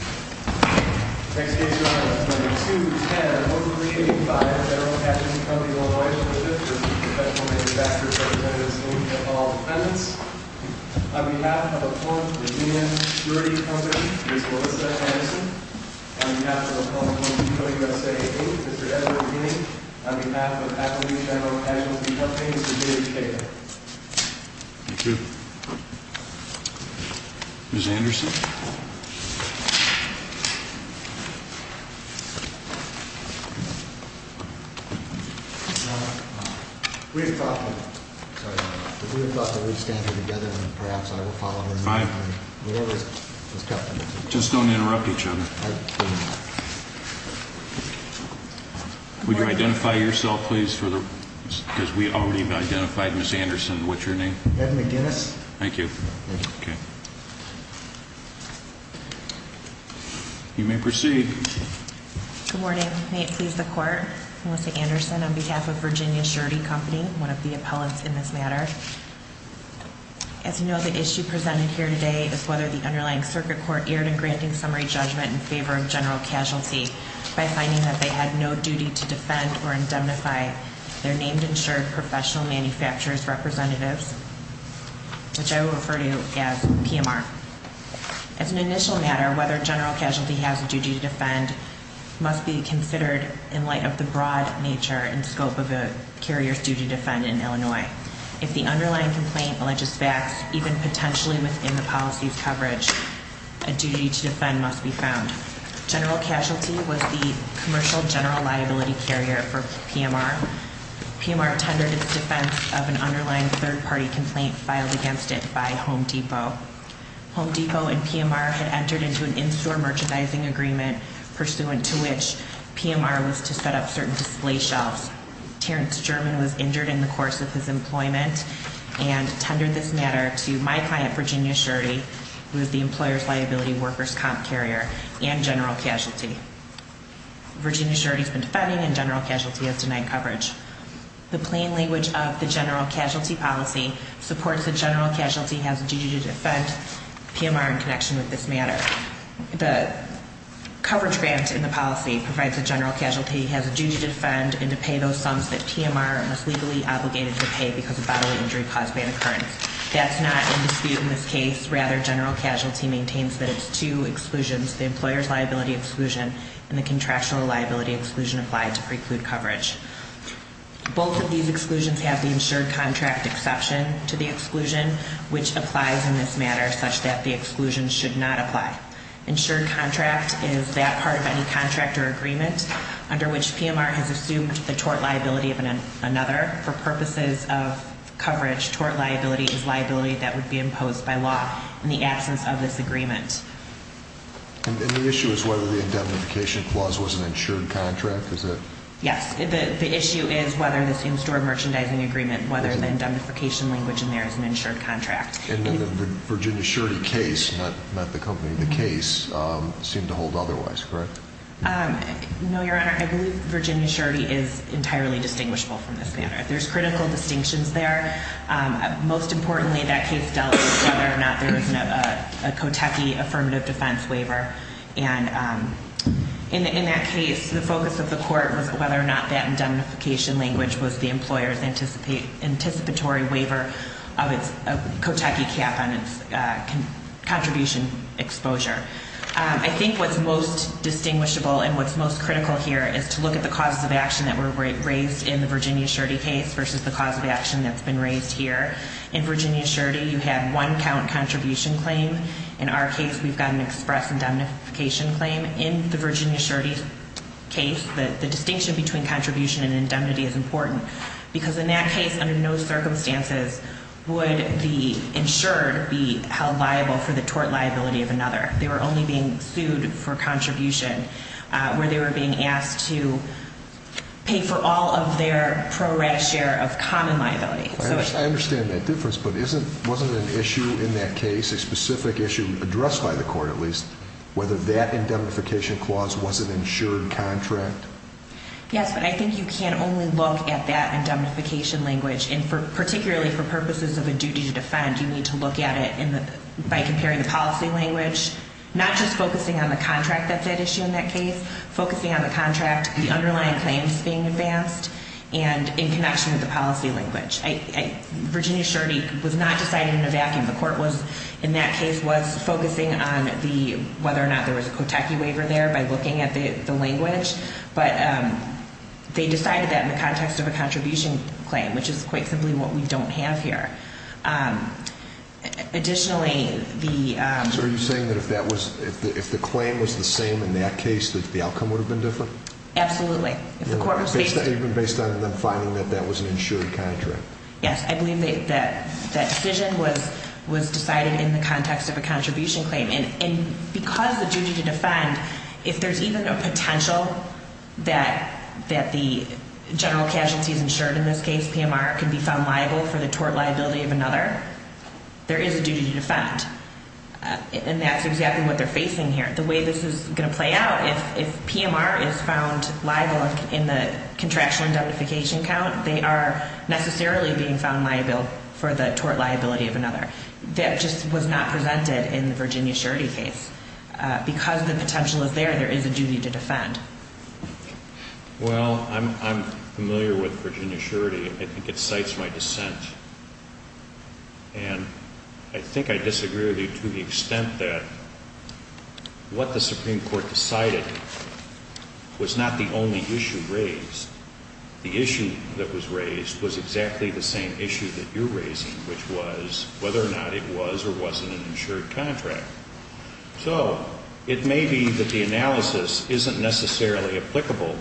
On behalf of the Virginia Surety Company, Ms. Melissa Anderson. On behalf of the public We thought that we'd stand here together and perhaps I will follow her. Just don't interrupt each other. Would you identify yourself, please? Because we already identified Ms. Anderson. What's your name? Ed McGinnis. Thank you. You may proceed. Good morning. May it please the court. Melissa Anderson on behalf of Virginia Surety Company, one of the appellants in this matter. As you know, the issue presented here today is whether the underlying circuit court erred in granting summary judgment in favor of general casualty by finding that they had no duty to defend or indemnify their named insured professional manufacturers' representatives, which I will refer to as PMR. As an initial matter, whether general casualty has a duty to defend must be considered in light of the broad nature and scope of a carrier's duty to defend in Illinois. If the underlying complaint alleges facts, even potentially within the policy's coverage, a duty to defend must be found. General casualty was the commercial general liability carrier for PMR. PMR tendered its defense of an underlying third-party complaint filed against it by Home Depot. Home Depot and PMR had entered into an in-store merchandising agreement pursuant to which PMR was to set up certain display shelves. Terrence German was injured in the course of his employment and tendered this matter to my client, Virginia Surety, who is the employer's liability workers' comp carrier and general casualty. Virginia Surety has been defending and general casualty has denied coverage. The plain language of the general casualty policy supports that general casualty has a duty to defend PMR in connection with this matter. The coverage grant in the policy provides that general casualty has a duty to defend and to pay those sums that PMR was legally obligated to pay because of bodily injury caused by the occurrence. That's not in dispute in this case. Rather, general casualty maintains that it's two exclusions, the employer's liability exclusion and the contractual liability exclusion applied to preclude coverage. Both of these exclusions have the insured contract exception to the exclusion, which applies in this matter such that the exclusion should not apply. Insured contract is that part of any contract or agreement under which PMR has assumed the tort liability of another. For purposes of coverage, tort liability is liability that would be imposed by law in the absence of this agreement. And the issue is whether the indemnification clause was an insured contract, is it? Yes, the issue is whether this in-store merchandising agreement, whether the indemnification language in there is an insured contract. And the Virginia Surety case, not the company, the case seemed to hold otherwise, correct? No, Your Honor, I believe Virginia Surety is entirely distinguishable from this matter. There's critical distinctions there. Most importantly, that case dealt with whether or not there was a Kotechi affirmative defense waiver. And in that case, the focus of the court was whether or not that indemnification language was the employer's anticipatory waiver of its Kotechi cap on its contribution exposure. I think what's most distinguishable and what's most critical here is to look at the causes of action that were raised in the Virginia Surety case versus the cause of action that's been raised here. In Virginia Surety, you had one count contribution claim. In our case, we've got an express indemnification claim. In the Virginia Surety case, the distinction between contribution and indemnity is important. Because in that case, under no circumstances would the insured be held liable for the tort liability of another. They were only being sued for contribution where they were being asked to pay for all of their pro-rat share of common liability. I understand that difference, but wasn't an issue in that case, a specific issue addressed by the court at least, whether that indemnification clause was an insured contract? Yes, but I think you can only look at that indemnification language. And particularly for purposes of a duty to defend, you need to look at it by comparing the policy language, not just focusing on the contract that's at issue in that case, focusing on the contract, the underlying claims being advanced, and in connection with the policy language. Virginia Surety was not decided in a vacuum. The court was, in that case, was focusing on whether or not there was a Kotechi waiver there by looking at the language. But they decided that in the context of a contribution claim, which is quite simply what we don't have here. Additionally, the... So are you saying that if the claim was the same in that case, that the outcome would have been different? Absolutely. Even based on them finding that that was an insured contract? Yes, I believe that decision was decided in the context of a contribution claim. And because the duty to defend, if there's even a potential that the general casualties insured in this case, PMR, can be found liable for the tort liability of another, there is a duty to defend. And that's exactly what they're facing here. The way this is going to play out, if PMR is found liable in the contraction indemnification count, they are necessarily being found liable for the tort liability of another. That just was not presented in the Virginia Surety case. Because the potential is there, there is a duty to defend. Well, I'm familiar with Virginia Surety. I think it cites my dissent. And I think I disagree with you to the extent that what the Supreme Court decided was not the only issue raised. The issue that was raised was exactly the same issue that you're raising, which was whether or not it was or wasn't an insured contract. So it may be that the analysis isn't necessarily applicable,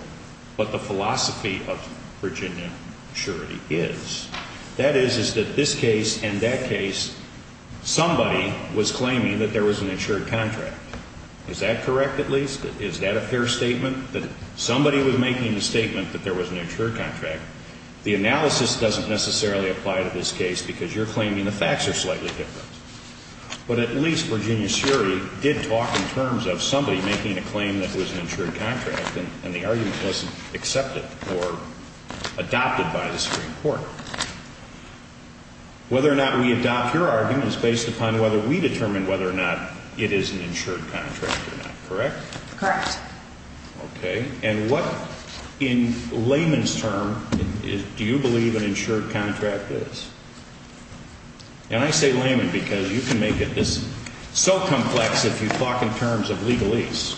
but the philosophy of Virginia Surety is. That is, is that this case and that case, somebody was claiming that there was an insured contract. Is that correct, at least? Is that a fair statement? That somebody was making the statement that there was an insured contract. The analysis doesn't necessarily apply to this case because you're claiming the facts are slightly different. But at least Virginia Surety did talk in terms of somebody making a claim that was an insured contract, and the argument wasn't accepted or adopted by the Supreme Court. Whether or not we adopt your argument is based upon whether we determine whether or not it is an insured contract or not, correct? Correct. Okay. And what, in layman's terms, do you believe an insured contract is? And I say layman because you can make it so complex if you talk in terms of legalese.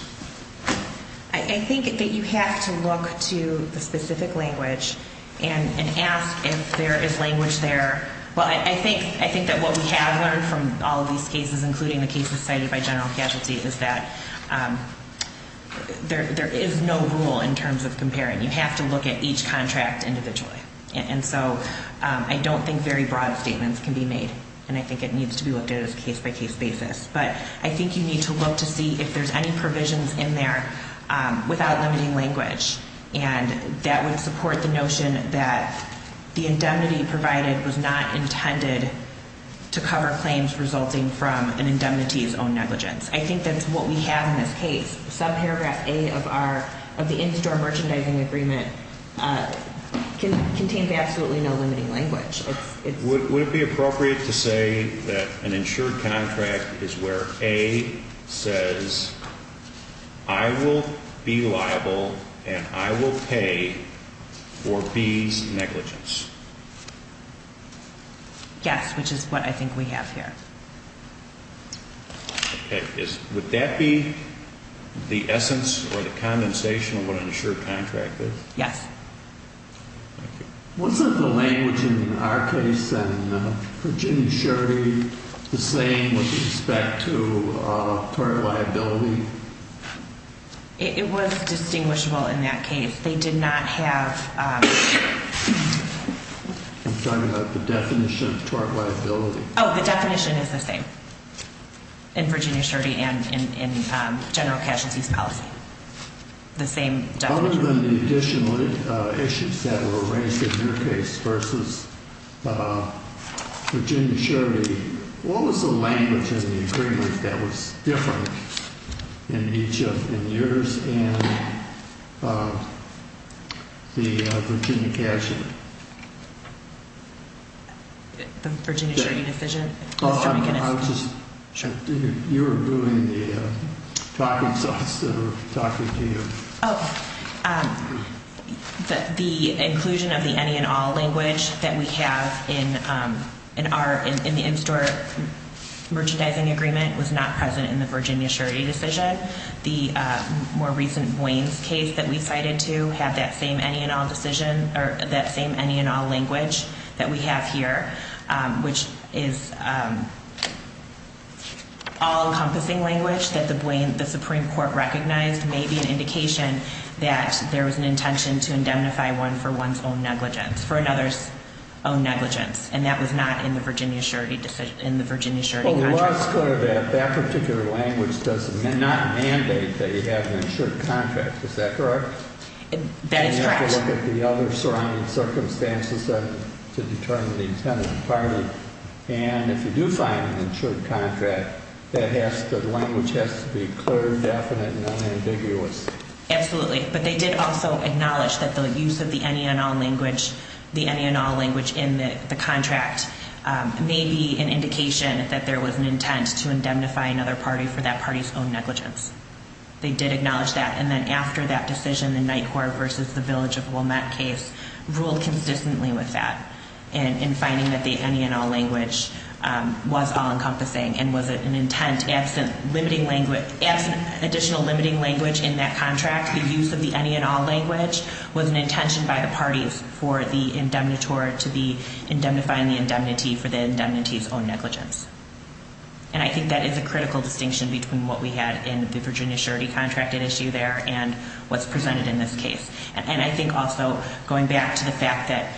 I think that you have to look to the specific language and ask if there is language there. Well, I think that what we have learned from all of these cases, including the cases cited by general casualty, is that there is no rule in terms of comparing. You have to look at each contract individually. And so I don't think very broad statements can be made, and I think it needs to be looked at as a case-by-case basis. But I think you need to look to see if there's any provisions in there without limiting language. And that would support the notion that the indemnity provided was not intended to cover claims resulting from an indemnity's own negligence. I think that's what we have in this case. Subparagraph A of the in-store merchandising agreement contains absolutely no limiting language. Would it be appropriate to say that an insured contract is where A says I will be liable and I will pay for B's negligence? Yes, which is what I think we have here. Would that be the essence or the condensation of what an insured contract is? Yes. Thank you. Wasn't the language in our case and Virginia Schertie the same with respect to tort liability? It was distinguishable in that case. They did not have the definition of tort liability. Oh, the definition is the same in Virginia Schertie and in general casualty's policy, the same definition. Other than the additional issues that were raised in your case versus Virginia Schertie, what was the language in the agreement that was different in each of yours and the Virginia casualty? The Virginia Schertie decision? I was just checking. You were doing the talking thoughts that were talking to you. Oh, the inclusion of the any and all language that we have in our in-store merchandising agreement was not present in the Virginia Schertie decision. The more recent Waynes case that we cited to have that same any and all decision or that same any and all language that we have here, which is all-encompassing language that the Supreme Court recognized may be an indication that there was an intention to indemnify one for one's own negligence, for another's own negligence, and that was not in the Virginia Schertie decision, in the Virginia Schertie contract. Well, it was clear that that particular language does not mandate that you have an insured contract. Is that correct? That is correct. You have to look at the other surrounding circumstances to determine the intent of the party, and if you do find an insured contract, the language has to be clear, definite, and unambiguous. Absolutely. But they did also acknowledge that the use of the any and all language in the contract may be an indication that there was an intent to indemnify another party for that party's own negligence. They did acknowledge that, and then after that decision, the Nightcore v. the Village of Wilmette case ruled consistently with that in finding that the any and all language was all-encompassing and was an intent absent additional limiting language in that contract. The use of the any and all language was an intention by the parties for the indemnitor to be indemnifying the indemnity for the indemnity's own negligence. And I think that is a critical distinction between what we had in the Virginia surety contracted issue there and what's presented in this case. And I think also going back to the fact that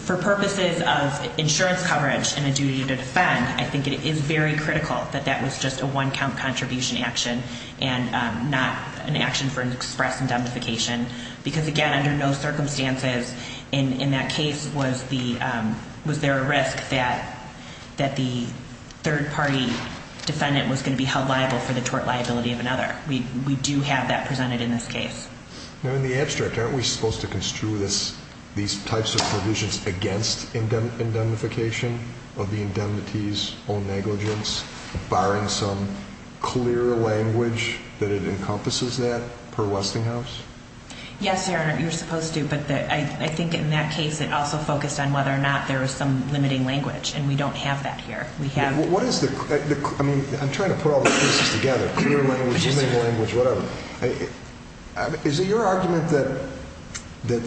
for purposes of insurance coverage and a duty to defend, I think it is very critical that that was just a one-count contribution action and not an action for an express indemnification because, again, under no circumstances in that case was there a risk that the third-party defendant was going to be held liable for the tort liability of another. We do have that presented in this case. In the abstract, aren't we supposed to construe these types of provisions against indemnification of the indemnity's own negligence, barring some clear language that it encompasses that per Westinghouse? Yes, Your Honor, you're supposed to. But I think in that case it also focused on whether or not there was some limiting language, and we don't have that here. I'm trying to put all the pieces together, clear language, limiting language, whatever. Is it your argument that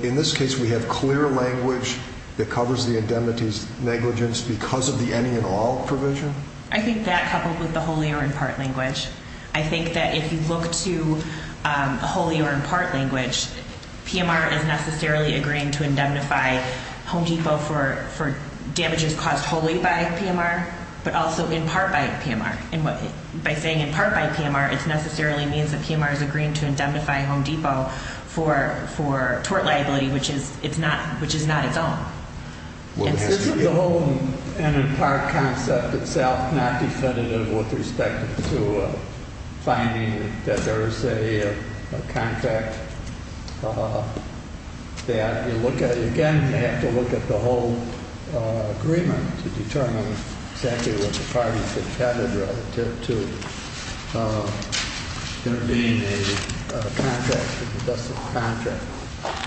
in this case we have clear language that covers the indemnity's negligence because of the any and all provision? I think that coupled with the wholly or in part language. I think that if you look to wholly or in part language, PMR is necessarily agreeing to indemnify Home Depot for damages caused wholly by PMR, but also in part by PMR. And by saying in part by PMR, it necessarily means that PMR is agreeing to indemnify Home Depot for tort liability, which is not its own. Is the whole and in part concept itself not definitive with respect to finding that there's a contract that you look at it again, you have to look at the whole agreement to determine exactly what the parties intended relative to there being a contract, a domestic contract?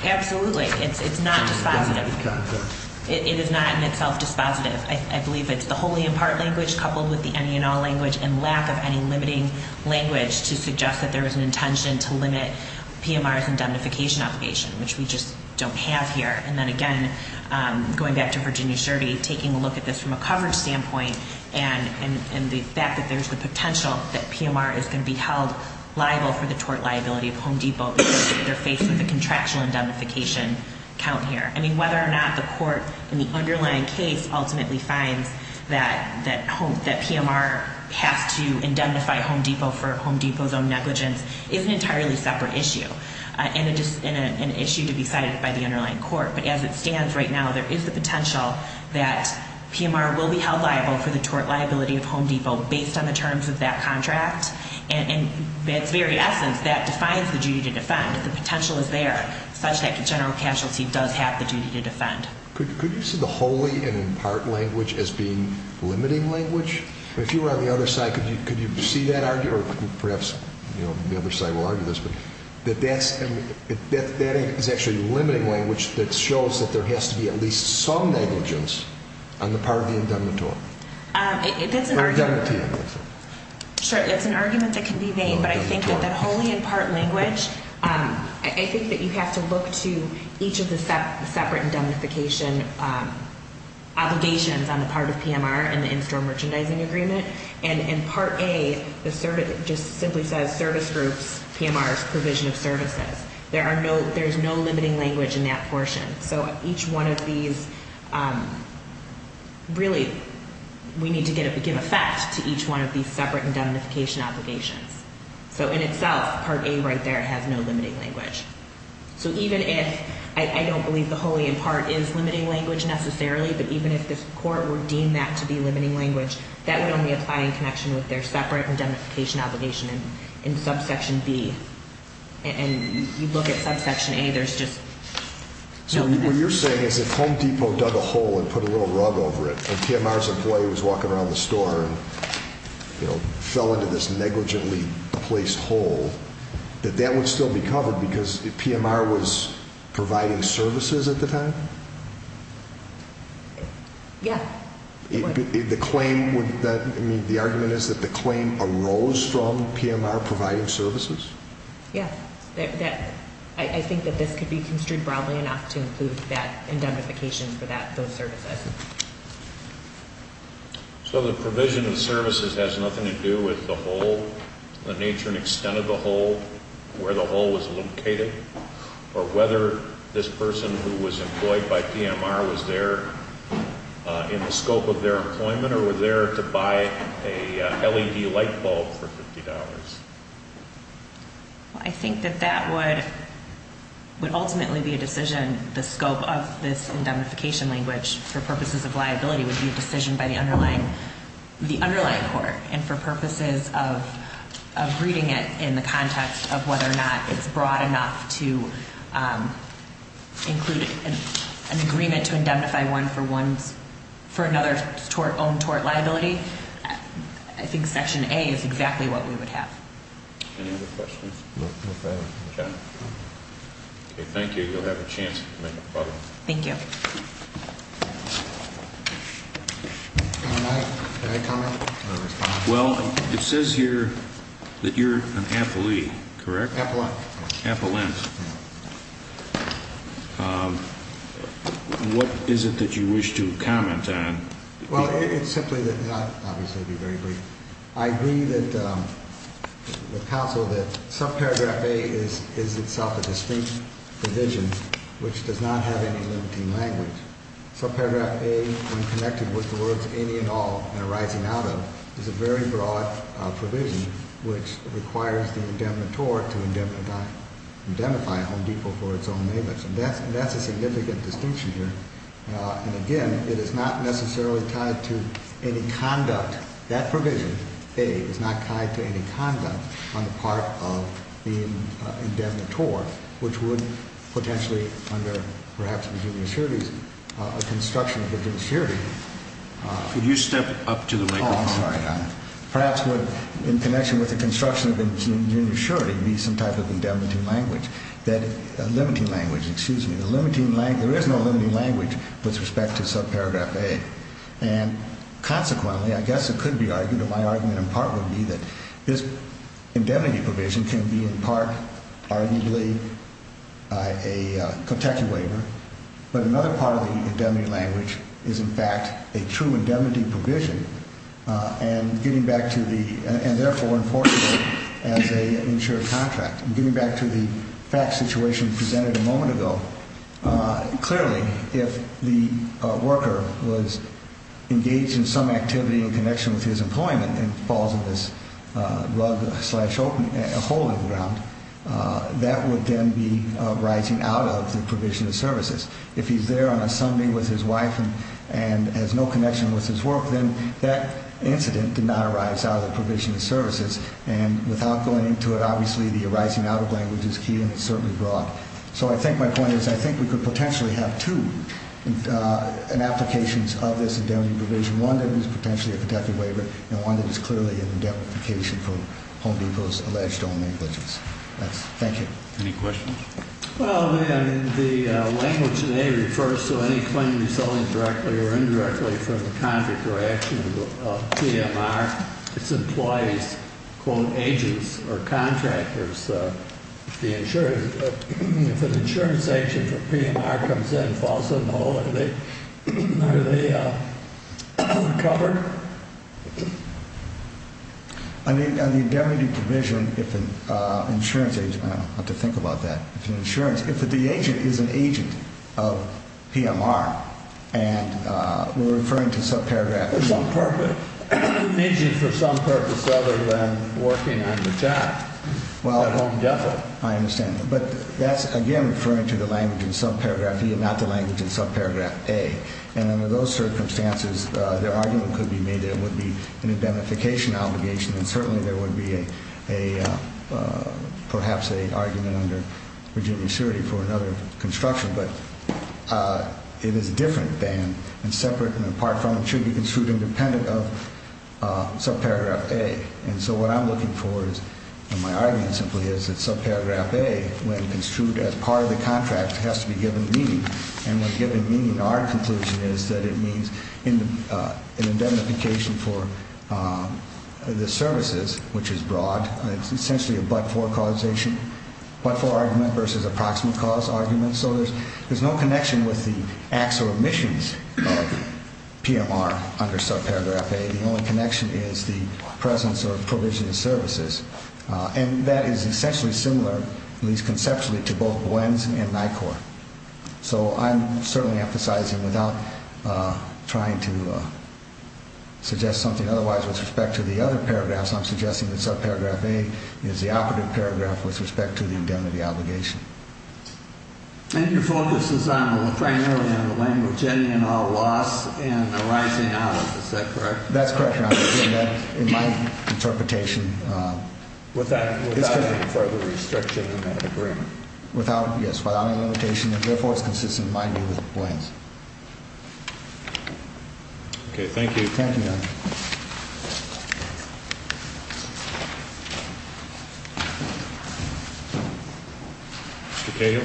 Absolutely. It's not dispositive. It is not in itself dispositive. I believe it's the wholly in part language coupled with the any and all language and lack of any limiting language to suggest that there was an intention to limit PMR's indemnification obligation, which we just don't have here. And then again, going back to Virginia's survey, taking a look at this from a coverage standpoint, and the fact that there's the potential that PMR is going to be held liable for the tort liability of Home Depot if they're faced with a contractual indemnification count here. I mean, whether or not the court in the underlying case ultimately finds that PMR has to indemnify Home Depot for Home Depot's own negligence is an entirely separate issue. And it is an issue to be cited by the underlying court. But as it stands right now, there is the potential that PMR will be held liable for the tort liability of Home Depot based on the terms of that contract. And in its very essence, that defines the duty to defend. The potential is there such that the general casualty does have the duty to defend. Could you see the wholly and in part language as being limiting language? If you were on the other side, could you see that argument? Or perhaps the other side will argue this. But that is actually limiting language that shows that there has to be at least some negligence on the part of the indemnitor. That's an argument that can be made. But I think that the wholly and part language, I think that you have to look to each of the separate indemnification obligations on the part of PMR and the in-store merchandising agreement. And in Part A, it just simply says service groups, PMR's provision of services. There's no limiting language in that portion. So each one of these, really, we need to give effect to each one of these separate indemnification obligations. So in itself, Part A right there has no limiting language. So even if, I don't believe the wholly and part is limiting language necessarily, but even if this court were deemed that to be limiting language, that would only apply in connection with their separate indemnification obligation in Subsection B. And you look at Subsection A, there's just- So what you're saying is if Home Depot dug a hole and put a little rug over it, and PMR's employee was walking around the store and fell into this negligently placed hole, that that would still be covered because PMR was providing services at the time? Yeah. The claim would, I mean, the argument is that the claim arose from PMR providing services? Yeah. I think that this could be construed broadly enough to include that indemnification for those services. So the provision of services has nothing to do with the hole, the nature and extent of the hole, where the hole was located, or whether this person who was employed by PMR was there in the scope of their employment, or was there to buy a LED light bulb for $50? I think that that would ultimately be a decision. The scope of this indemnification language, for purposes of liability, would be a decision by the underlying court. And for purposes of reading it in the context of whether or not it's broad enough to include an agreement to indemnify one for another's own tort liability, I think Section A is exactly what we would have. Any other questions? No further. Okay. Okay, thank you. You'll have a chance to make a proposal. Thank you. All right. Can I comment or respond? Well, it says here that you're an appellee, correct? Appellant. Appellant. What is it that you wish to comment on? Well, it's simply that I'd obviously be very brief. I agree with counsel that subparagraph A is itself a distinct provision, which does not have any limiting language. Subparagraph A, when connected with the words any and all and arising out of, is a very broad provision, which requires the indemnitor to indemnify a Home Depot for its own maintenance. And that's a significant distinction here. And, again, it is not necessarily tied to any conduct. That provision, A, is not tied to any conduct on the part of the indemnitor, which would potentially under perhaps Virginia surety, a construction of Virginia surety. Could you step up to the microphone? Oh, I'm sorry, Your Honor. Perhaps in connection with the construction of Virginia surety would be some type of indemnity language. Limiting language, excuse me. There is no limiting language with respect to subparagraph A. And, consequently, I guess it could be argued, and my argument in part would be, that this indemnity provision can be in part arguably a Kentucky waiver, but another part of the indemnity language is, in fact, a true indemnity provision and, therefore, enforceable as an insured contract. Getting back to the fact situation presented a moment ago, clearly if the worker was engaged in some activity in connection with his employment and falls in this rug-slash-hole in the ground, that would then be arising out of the provision of services. If he's there on a Sunday with his wife and has no connection with his work, then that incident did not arise out of the provision of services. And without going into it, obviously, the arising out of language is key and certainly broad. So I think my point is I think we could potentially have two applications of this indemnity provision, one that is potentially a Kentucky waiver and one that is clearly an indemnification for Home Depot's alleged own negligence. Thank you. Any questions? Well, the language today refers to any claim resulting directly or indirectly from the contract or action of PMR, its employees, quote, agents or contractors. The insurance, if an insurance agent for PMR comes in and falls in the hole, are they recovered? On the indemnity provision, if an insurance agent, I'll have to think about that. If the agent is an agent of PMR and we're referring to subparagraph A. An agent for some purpose other than working on the job at Home Depot. I understand. But that's, again, referring to the language in subparagraph E and not the language in subparagraph A. And under those circumstances, the argument could be made that it would be an indemnification obligation and certainly there would be perhaps an argument under Virginia surety for another construction. But it is different than and separate and apart from and should be construed independent of subparagraph A. And so what I'm looking for is, and my argument simply is that subparagraph A, when construed as part of the contract, has to be given meaning. And when given meaning, our conclusion is that it means an indemnification for the services, which is broad. It's essentially a but-for causation, but-for argument versus approximate cause argument. So there's no connection with the acts or omissions of PMR under subparagraph A. The only connection is the presence or provision of services. And that is essentially similar, at least conceptually, to both GWENs and NICOR. So I'm certainly emphasizing without trying to suggest something otherwise with respect to the other paragraphs, I'm suggesting that subparagraph A is the operative paragraph with respect to the indemnity obligation. And your focus is primarily on the language ending in all loss and arising out of it. Is that correct? That's correct, Your Honor, in my interpretation. Without any further restriction on that agreement? Without, yes, without any limitation, and therefore it's consistent, mind you, with GWENs. Okay, thank you. Thank you, Your Honor.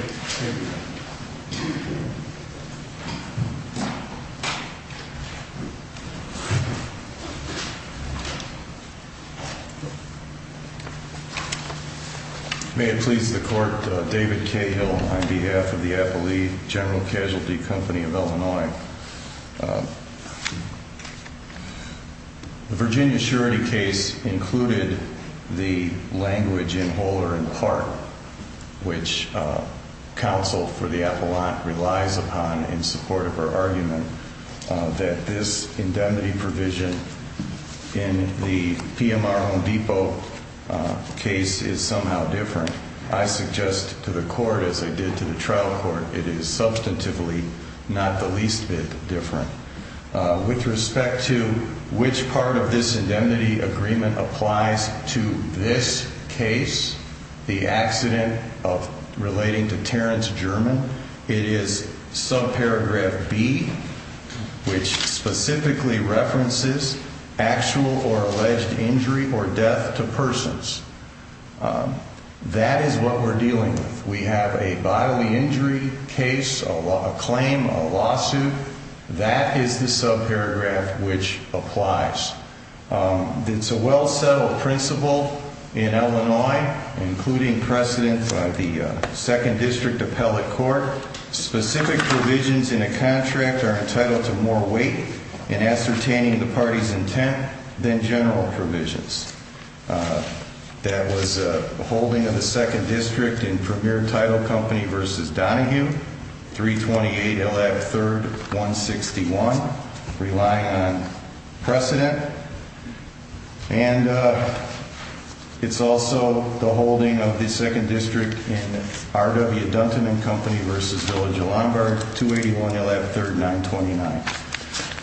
Mr. Cahill. May it please the Court, David Cahill on behalf of the Appellee General Casualty Company of Illinois. The Virginia surety case included the language in whole or in part, which counsel for the appellant relies upon in support of her argument, that this indemnity provision in the PMR Home Depot case is somehow different. I suggest to the Court, as I did to the trial court, it is substantively not the least bit different. With respect to which part of this indemnity agreement applies to this case, the accident relating to Terrence German, it is subparagraph B, which specifically references actual or alleged injury or death to persons. That is what we're dealing with. We have a bodily injury case, a claim, a lawsuit. That is the subparagraph which applies. It's a well-settled principle in Illinois, including precedence of the Second District Appellate Court. Specific provisions in a contract are entitled to more weight in ascertaining the party's intent than general provisions. That was a holding of the Second District in Premier Title Company v. Donahue, 328 LF 3rd 161, relying on precedent. And it's also the holding of the Second District in R.W. Dunton & Company v. Village of Lombard, 281 LF 3rd 929.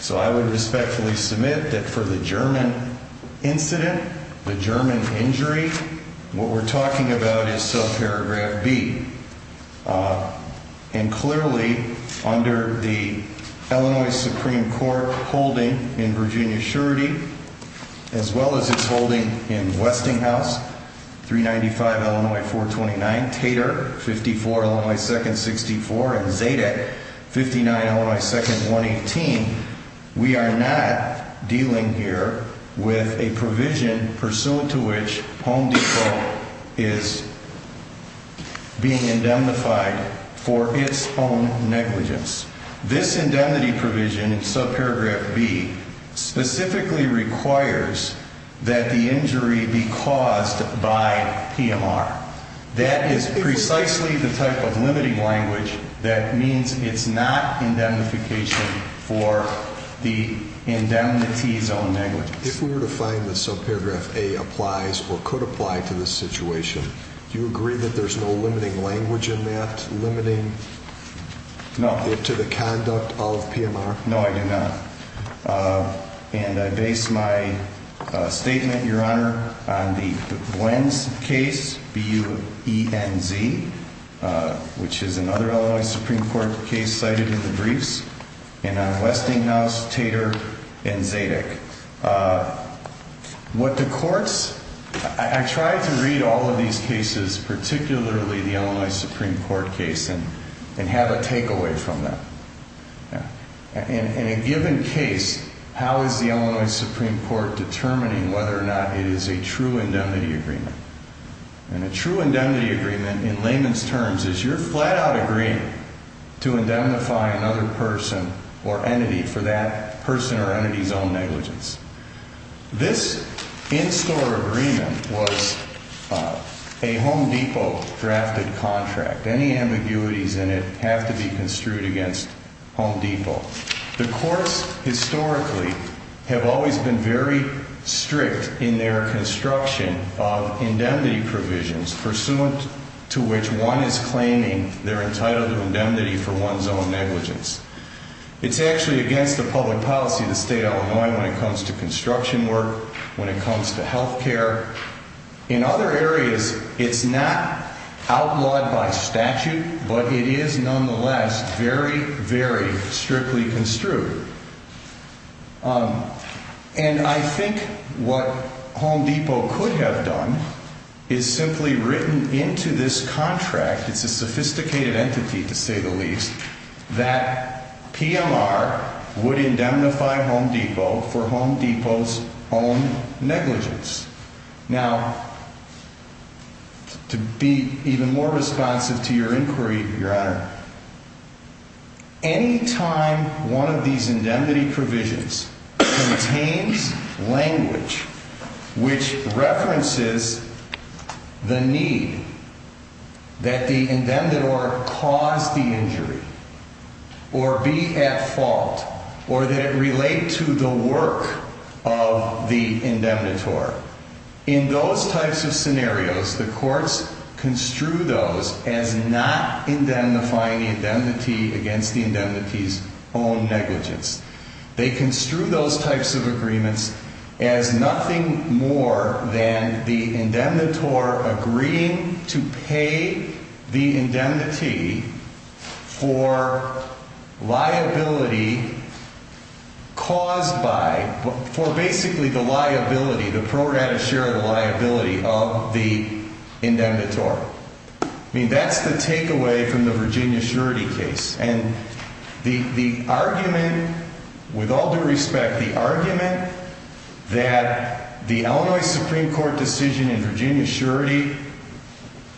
So I would respectfully submit that for the German incident, the German injury, what we're talking about is subparagraph B. And clearly, under the Illinois Supreme Court holding in Virginia Surety, as well as its holding in Westinghouse, 395 LF 429, Tater, 54 LF 64, and Zaydeck, 59 LF 118, we are not dealing here with a provision pursuant to which Home Depot is being indemnified for its home negligence. This indemnity provision in subparagraph B specifically requires that the injury be caused by PMR. That is precisely the type of limiting language that means it's not indemnification for the indemnity's own negligence. If we were to find that subparagraph A applies or could apply to this situation, do you agree that there's no limiting language in that limiting it to the conduct of PMR? No, I do not. And I base my statement, Your Honor, on the Gwenz case, B-U-E-N-Z, which is another Illinois Supreme Court case cited in the briefs, and on Westinghouse, Tater, and Zaydeck. What the courts, I try to read all of these cases, particularly the Illinois Supreme Court case, and have a takeaway from that. In a given case, how is the Illinois Supreme Court determining whether or not it is a true indemnity agreement? And a true indemnity agreement, in layman's terms, is your flat-out agreement to indemnify another person or entity for that person or entity's own negligence. This in-store agreement was a Home Depot-drafted contract. Any ambiguities in it have to be construed against Home Depot. The courts, historically, have always been very strict in their construction of indemnity provisions, pursuant to which one is claiming they're entitled to indemnity for one's own negligence. It's actually against the public policy of the state of Illinois when it comes to construction work, when it comes to health care. In other areas, it's not outlawed by statute, but it is, nonetheless, very, very strictly construed. And I think what Home Depot could have done is simply written into this contract, it's a sophisticated entity to say the least, that PMR would indemnify Home Depot for Home Depot's own negligence. Now, to be even more responsive to your inquiry, Your Honor, any time one of these indemnity provisions contains language which references the need that the indemnitor cause the injury or be at fault or that it relate to the work of the indemnitor, in those types of scenarios, the courts construe those as not indemnifying the indemnity against the indemnity's own negligence. They construe those types of agreements as nothing more than the indemnitor agreeing to pay the indemnity for liability caused by, for basically the liability, the pro rata share of the liability of the indemnitor. I mean, that's the takeaway from the Virginia surety case. And the argument, with all due respect, the argument that the Illinois Supreme Court decision in Virginia surety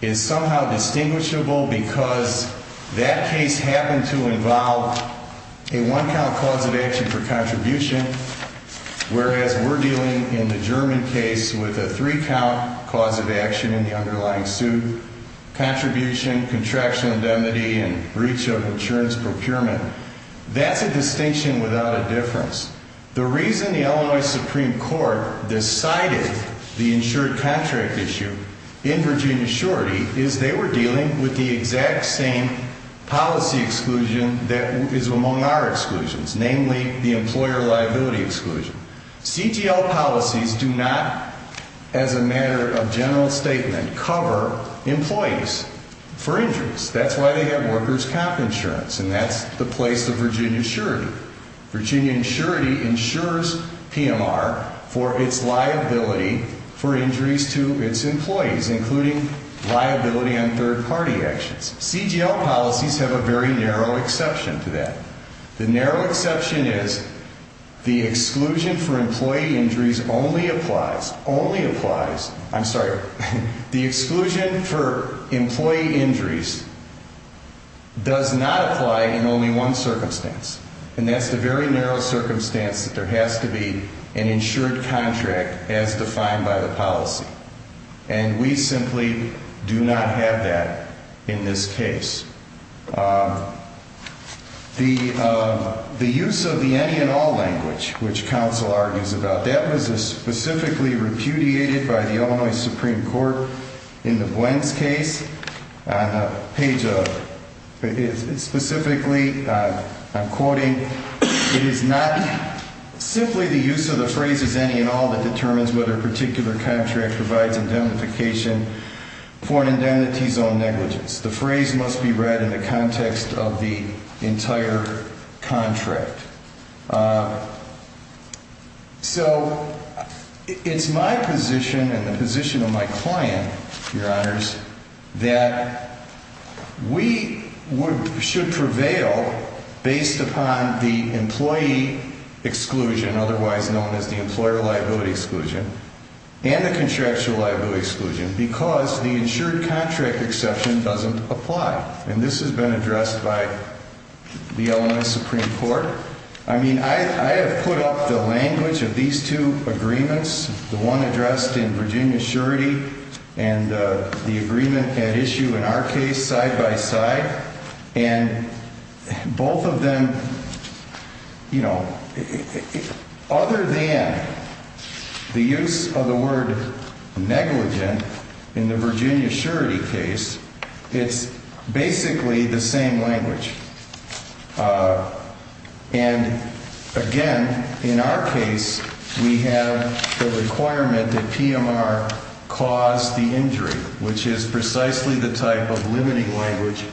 is somehow distinguishable because that case happened to involve a one count cause of action for contribution, whereas we're dealing in the German case with a three count cause of action in the underlying suit. Contribution, contraction, indemnity, and breach of insurance procurement. That's a distinction without a difference. The reason the Illinois Supreme Court decided the insured contract issue in Virginia surety is they were dealing with the exact same policy exclusion that is among our exclusions, namely the employer liability exclusion. CGL policies do not, as a matter of general statement, cover employees for injuries. That's why they have workers' comp insurance, and that's the place of Virginia surety. Virginia surety insures PMR for its liability for injuries to its employees, including liability on third party actions. CGL policies have a very narrow exception to that. The narrow exception is the exclusion for employee injuries only applies, only applies, I'm sorry, the exclusion for employee injuries does not apply in only one circumstance. And that's the very narrow circumstance that there has to be an insured contract as defined by the policy. And we simply do not have that in this case. The use of the any and all language, which counsel argues about, that was specifically repudiated by the Illinois Supreme Court in the Gwen's case. Specifically, I'm quoting, it is not simply the use of the phrase any and all that determines whether a particular contract provides indemnification for an indemnity zone negligence. The phrase must be read in the context of the entire contract. So it's my position and the position of my client, Your Honors, that we should prevail based upon the employee exclusion, otherwise known as the employer liability exclusion, and the contractual liability exclusion because the insured contract exception doesn't apply. And this has been addressed by the Illinois Supreme Court. I mean, I have put up the language of these two agreements, the one addressed in Virginia surety and the agreement at issue in our case side by side. And both of them, you know, other than the use of the word negligent in the Virginia surety case, it's basically the same language. And again, in our case, we have the requirement that PMR cause the injury, which is precisely the type of limiting language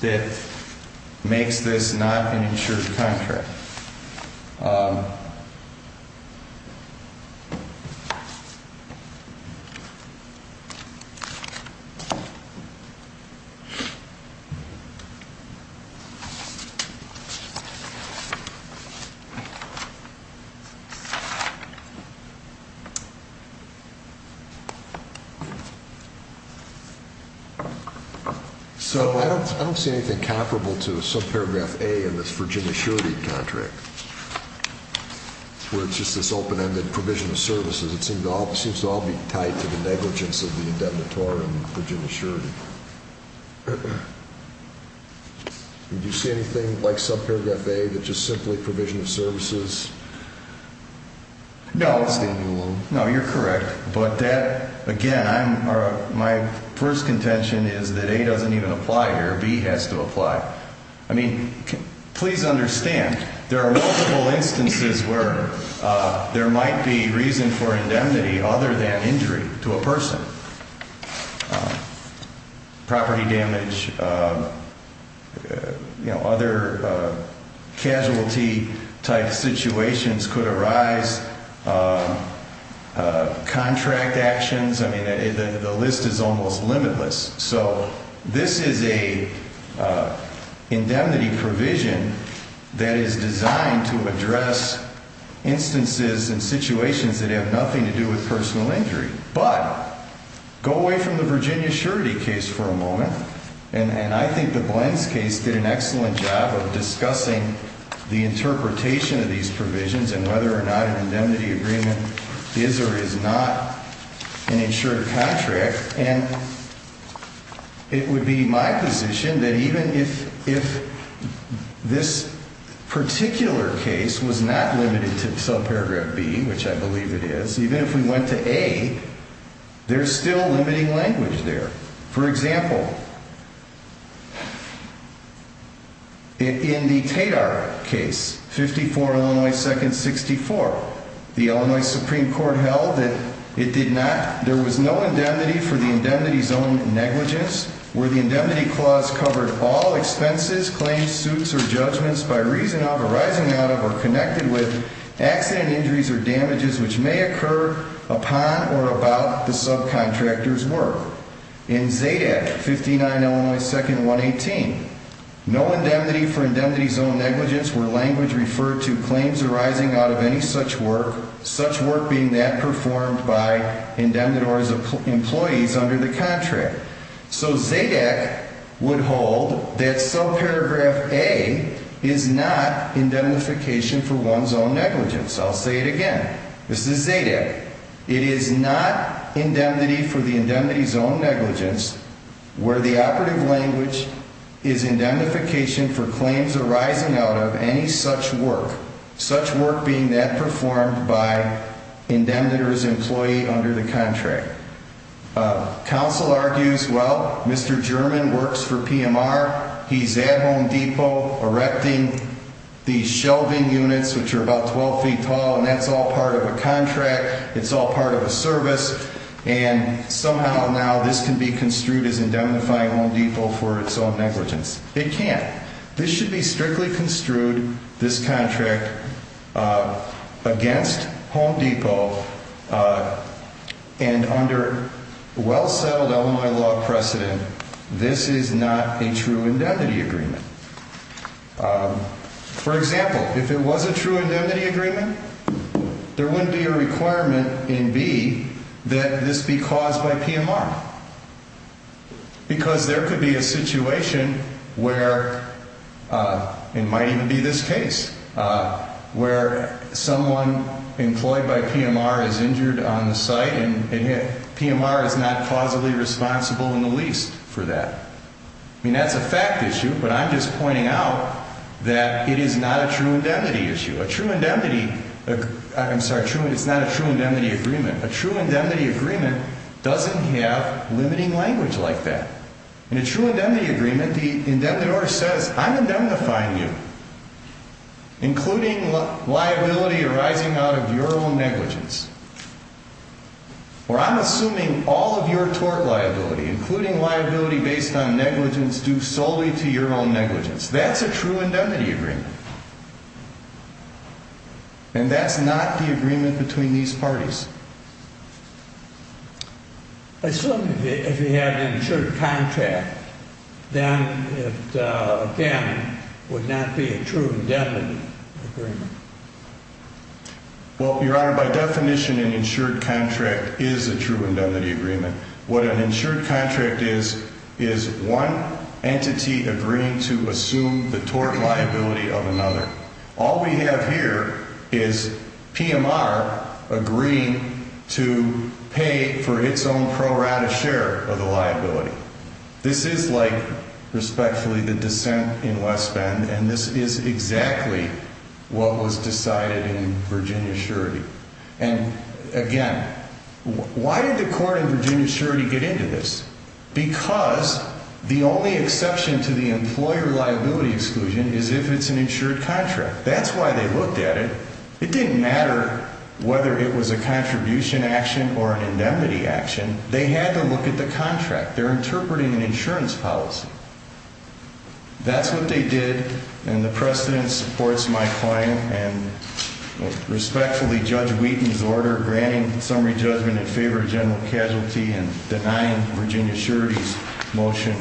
that makes this not an insured contract. So I don't see anything comparable to some paragraph A in this Virginia surety contract, where it's just this open-ended provision of services. It seems to all be tied to the negligence of the indemnitory and Virginia surety. Do you see anything like subparagraph A that's just simply provision of services? No. No, you're correct. But that, again, my first contention is that A doesn't even apply here. B has to apply. I mean, please understand, there are multiple instances where there might be reason for indemnity other than injury to a person. Property damage, you know, other casualty type situations could arise, contract actions. I mean, the list is almost limitless. So this is a indemnity provision that is designed to address instances and situations that have nothing to do with personal injury. But go away from the Virginia surety case for a moment. And I think the Blends case did an excellent job of discussing the interpretation of these provisions and whether or not an indemnity agreement is or is not an insured contract. And it would be my position that even if this particular case was not limited to subparagraph B, which I believe it is, even if we went to A, there's still limiting language there. For example, in the Tadar case, 54 Illinois 2nd 64, the Illinois Supreme Court held that it did not, there was no indemnity for the indemnity's own negligence, where the indemnity clause covered all expenses, claims, suits, or judgments by reason of, arising out of, or connected with accident injuries or damages which may occur upon or about the subcontractor's work. In Zadak, 59 Illinois 2nd 118, no indemnity for indemnity's own negligence where language referred to claims arising out of any such work, such work being that performed by indemnities or employees under the contract. So Zadak would hold that subparagraph A is not indemnification for one's own negligence. I'll say it again. This is Zadak. It is not indemnity for the indemnity's own negligence where the operative language is indemnification for claims arising out of any such work, such work being that performed by indemnities or employees under the contract. Counsel argues, well, Mr. German works for PMR, he's at Home Depot erecting these shelving units which are about 12 feet tall and that's all part of a contract, it's all part of a service, and somehow now this can be construed as indemnifying Home Depot for its own negligence. It can't. This should be strictly construed, this contract, against Home Depot and under well-settled Illinois law precedent, this is not a true indemnity agreement. For example, if it was a true indemnity agreement, there wouldn't be a requirement in B that this be caused by PMR because there could be a situation where, it might even be this case, where someone employed by PMR is injured on the site and PMR is not causally responsible in the least for that. I mean, that's a fact issue, but I'm just pointing out that it is not a true indemnity issue. A true indemnity, I'm sorry, it's not a true indemnity agreement. A true indemnity agreement doesn't have limiting language like that. In a true indemnity agreement, the indemnity order says, I'm indemnifying you, including liability arising out of your own negligence. Or I'm assuming all of your tort liability, including liability based on negligence due solely to your own negligence. That's a true indemnity agreement. And that's not the agreement between these parties. Assuming if you had an insured contract, then it, again, would not be a true indemnity agreement. Well, Your Honor, by definition, an insured contract is a true indemnity agreement. What an insured contract is, is one entity agreeing to assume the tort liability of another. All we have here is PMR agreeing to pay for its own pro rata share of the liability. This is like, respectfully, the dissent in West Bend, and this is exactly what was decided in Virginia surety. And, again, why did the court in Virginia surety get into this? Because the only exception to the employer liability exclusion is if it's an insured contract. That's why they looked at it. It didn't matter whether it was a contribution action or an indemnity action. They had to look at the contract. They're interpreting an insurance policy. That's what they did, and the precedent supports my claim, and respectfully, Judge Wheaton's order granting summary judgment in favor of general casualty and denying Virginia surety's motion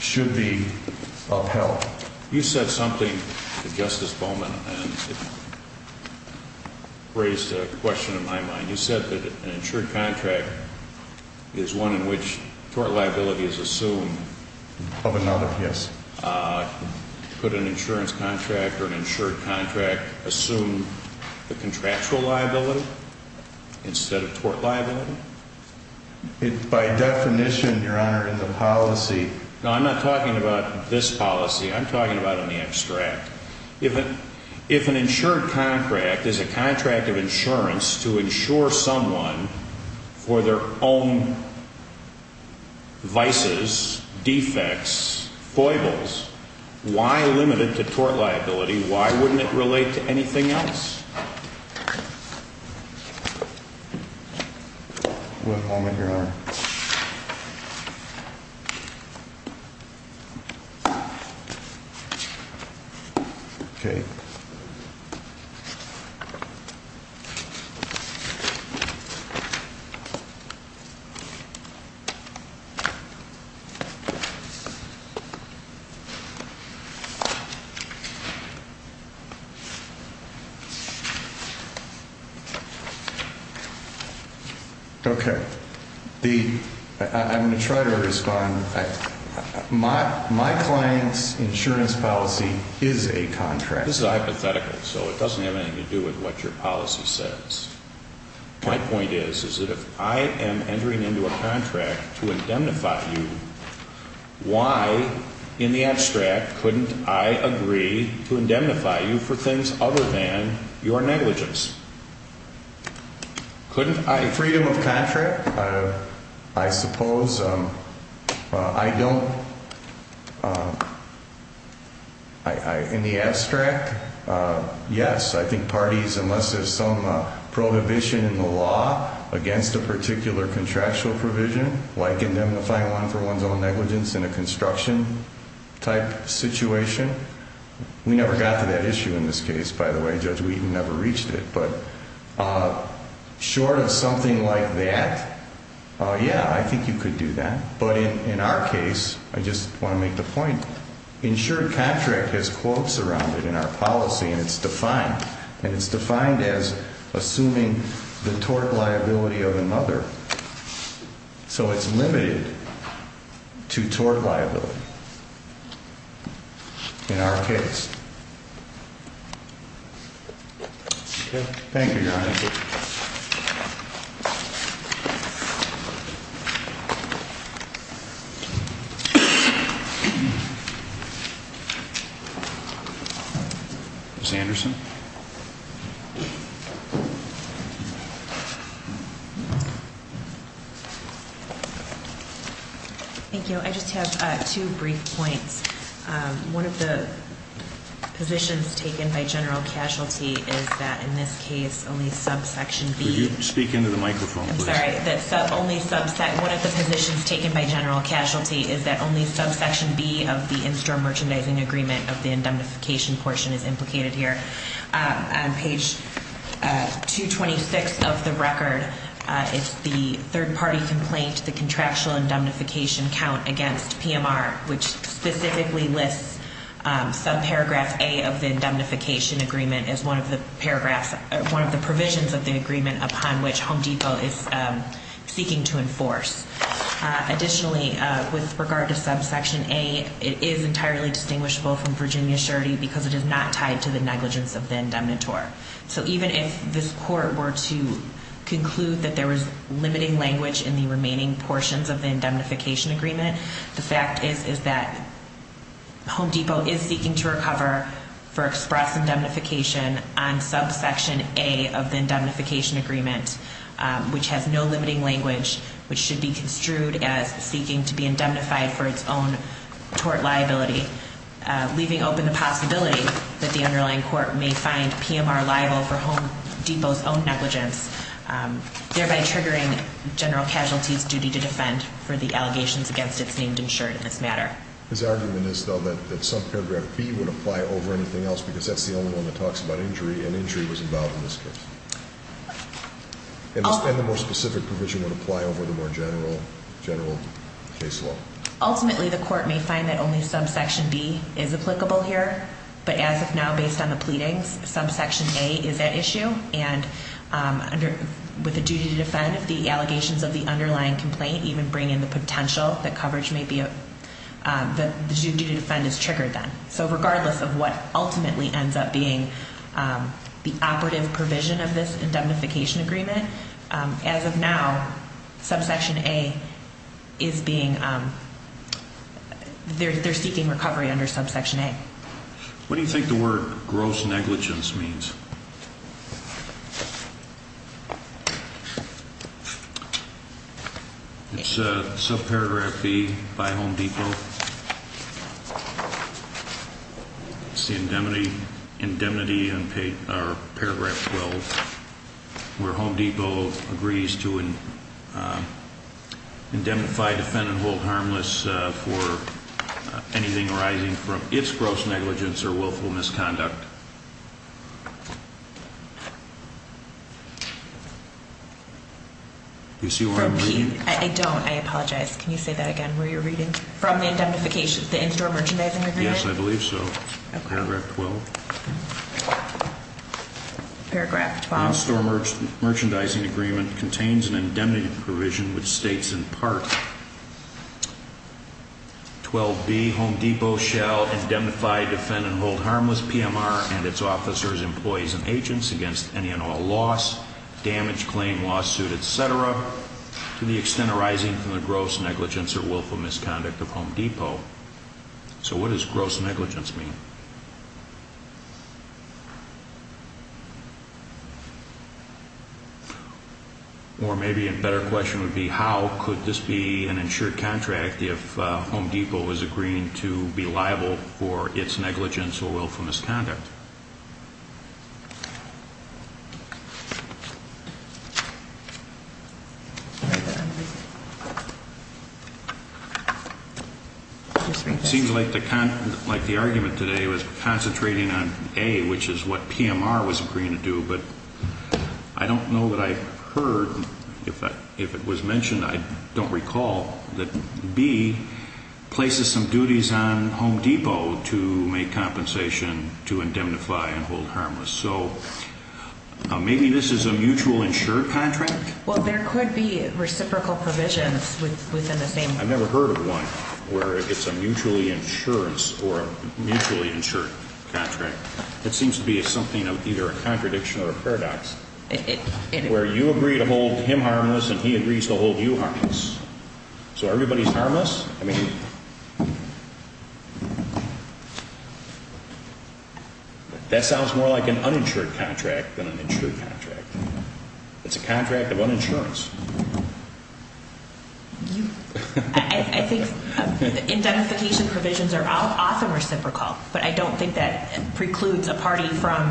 should be upheld. You said something to Justice Bowman, and it raised a question in my mind. You said that an insured contract is one in which tort liability is assumed. Of another, yes. Could an insurance contract or an insured contract assume the contractual liability instead of tort liability? By definition, Your Honor, in the policy. No, I'm not talking about this policy. I'm talking about in the abstract. If an insured contract is a contract of insurance to insure someone for their own vices, defects, foibles, why limit it to tort liability? Why wouldn't it relate to anything else? All right. Okay. I'm going to try to respond. My client's insurance policy is a contract. This is hypothetical, so it doesn't have anything to do with what your policy says. My point is, is that if I am entering into a contract to indemnify you, why in the abstract couldn't I agree to indemnify you for things other than your negligence? Couldn't I? Freedom of contract, I suppose. I don't. In the abstract, yes. I think parties, unless there's some prohibition in the law against a particular contractual provision, like indemnifying one for one's own negligence in a construction type situation. We never got to that issue in this case, by the way. Judge Wheaton never reached it. But short of something like that, yeah, I think you could do that. But in our case, I just want to make the point, insured contract has quotes around it in our policy, and it's defined. And it's defined as assuming the tort liability of another. So it's limited to tort liability. In our case. Thank you, Your Honor. Ms. Anderson? Thank you. I just have two brief points. One of the positions taken by general casualty is that in this case only subsection B. Could you speak into the microphone, please? I'm sorry. That only subset, one of the positions taken by general casualty is that only subsection B of the in-store merchandising agreement of the indemnification portion is implicated here. On page 226 of the record, it's the third-party complaint, the contractual indemnification count against PMR, which specifically lists subparagraph A of the indemnification agreement as one of the paragraphs, one of the provisions of the agreement upon which Home Depot is seeking to enforce. Additionally, with regard to subsection A, it is entirely distinguishable from Virginia surety because it is not tied to the negligence of the indemnitor. So even if this court were to conclude that there was limiting language in the remaining portions of the indemnification agreement, the fact is, is that Home Depot is seeking to recover for express indemnification on subsection A of the indemnification agreement, which has no limiting language, which should be construed as seeking to be indemnified for its own tort liability. Leaving open the possibility that the underlying court may find PMR liable for Home Depot's own negligence, thereby triggering general casualty's duty to defend for the allegations against its named insured in this matter. His argument is, though, that subparagraph B would apply over anything else because that's the only one that talks about injury, and injury was involved in this case. And the more specific provision would apply over the more general case law. Ultimately, the court may find that only subsection B is applicable here. But as of now, based on the pleadings, subsection A is at issue. And with the duty to defend, if the allegations of the underlying complaint even bring in the potential that coverage may be, the duty to defend is triggered then. So regardless of what ultimately ends up being the operative provision of this indemnification agreement, as of now, subsection A is being, they're seeking recovery under subsection A. What do you think the word gross negligence means? It's subparagraph B by Home Depot? It's the indemnity in paragraph 12, where Home Depot agrees to indemnify, defend, and hold harmless for anything arising from its gross negligence or willful misconduct. Do you see where I'm reading? I don't, I apologize. Can you say that again, where you're reading? From the indemnification, the in-store merchandising agreement? Yes, I believe so. Paragraph 12. Paragraph 12. The in-store merchandising agreement contains an indemnity provision which states in part, 12B, Home Depot shall indemnify, defend, and hold harmless PMR and its officers, employees, and agents against any and all loss, damage, claim, lawsuit, etc. to the extent arising from the gross negligence or willful misconduct of Home Depot. So what does gross negligence mean? Or maybe a better question would be, how could this be an insured contract if Home Depot is agreeing to be liable for its negligence or willful misconduct? It seems like the argument today was concentrating on A, which is what PMR was agreeing to do, but I don't know that I've heard, if it was mentioned, I don't recall that B places some duties on Home Depot to make compensation to indemnify and hold harmless. So maybe this is a mutual insured contract? Well, there could be reciprocal provisions within the same. I've never heard of one where it's a mutually insurance or a mutually insured contract. It seems to be something of either a contradiction or a paradox where you agree to hold him harmless and he agrees to hold you harmless. So everybody's harmless? That sounds more like an uninsured contract than an insured contract. It's a contract of uninsurance. I think indemnification provisions are often reciprocal, but I don't think that precludes a party from,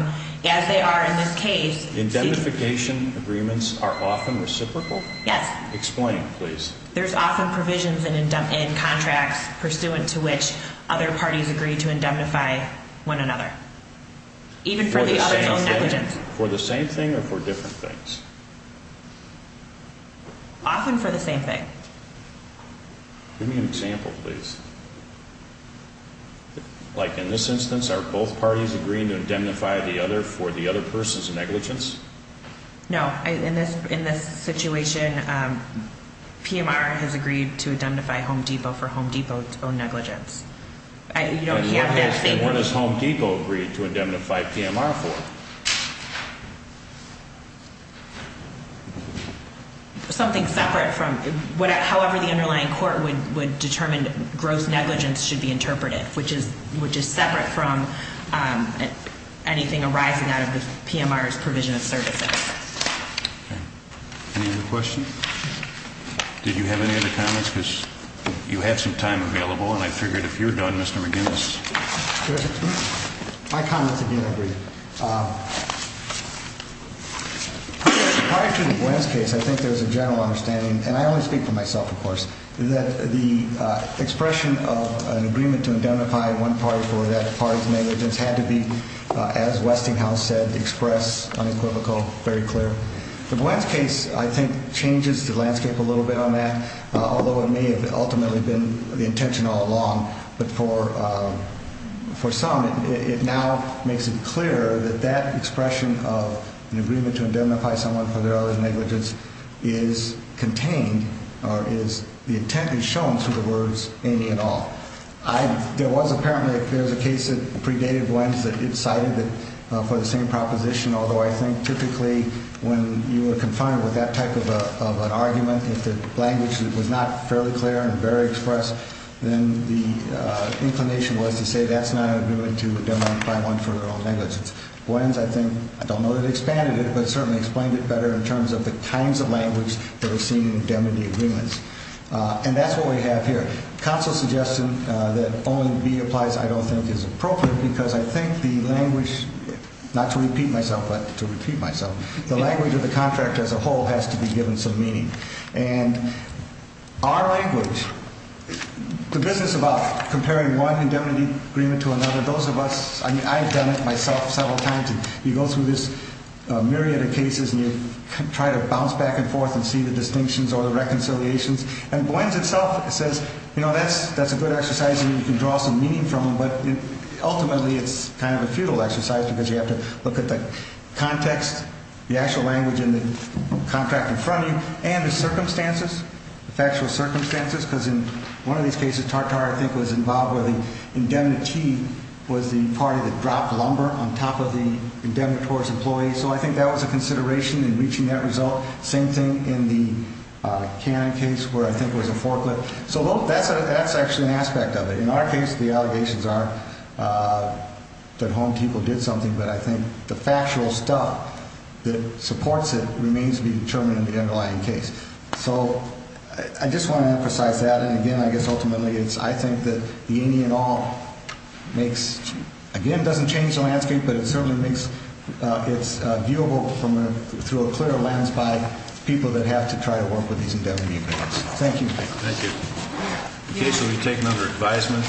as they are in this case. Indemnification agreements are often reciprocal? Yes. Explain, please. There's often provisions in contracts pursuant to which other parties agree to indemnify one another, even for the other's own negligence. For the same thing or for different things? Often for the same thing. Give me an example, please. Like in this instance, are both parties agreeing to indemnify the other for the other person's negligence? No. In this situation, PMR has agreed to indemnify Home Depot for Home Depot's own negligence. You don't have that statement. And what has Home Depot agreed to indemnify PMR for? Something separate from, however the underlying court would determine gross negligence should be interpreted, which is separate from anything arising out of the PMR's provision of services. Okay. Any other questions? Did you have any other comments? Because you have some time available, and I figured if you're done, Mr. McGinnis. My comments, again, are brief. Prior to the Buens case, I think there was a general understanding, and I only speak for myself, of course, that the expression of an agreement to indemnify one party for that party's negligence had to be, as Westinghouse said, express, unequivocal, very clear. The Buens case, I think, changes the landscape a little bit on that, although it may have ultimately been the intention all along. But for some, it now makes it clear that that expression of an agreement to indemnify someone for their other negligence is contained, or is the intent is shown through the words, any and all. There was apparently a case that predated Buens that cited it for the same proposition, although I think typically when you are confined with that type of an argument, if the language was not fairly clear and very express, then the inclination was to say that's not an agreement to indemnify one for their own negligence. Buens, I think, I don't know that it expanded it, but certainly explained it better in terms of the kinds of language that was seen in indemnity agreements. And that's what we have here. Counsel's suggestion that only B applies, I don't think, is appropriate because I think the language, not to repeat myself, but to repeat myself, the language of the contract as a whole has to be given some meaning. And our language, the business about comparing one indemnity agreement to another, those of us, I mean, I've done it myself several times, and you go through this myriad of cases and you try to bounce back and forth and see the distinctions or the reconciliations, and Buens itself says, you know, that's a good exercise and you can draw some meaning from it, but ultimately it's kind of a futile exercise because you have to look at the context, the actual language in the contract in front of you, and the circumstances, the factual circumstances, because in one of these cases, Tartar, I think, was involved where the indemnity was the party that dropped lumber on top of the indemnitor's employee. So I think that was a consideration in reaching that result. Same thing in the Cannon case where I think it was a forklift. So that's actually an aspect of it. In our case, the allegations are that home people did something, but I think the factual stuff that supports it remains to be determined in the underlying case. So I just want to emphasize that. And, again, I guess ultimately it's I think that the any and all makes, again, doesn't change the landscape, but it certainly makes it's viewable through a clear lens by people that have to try to work with these indemnity agreements. Thank you. Thank you. Okay, so we've taken under advisement.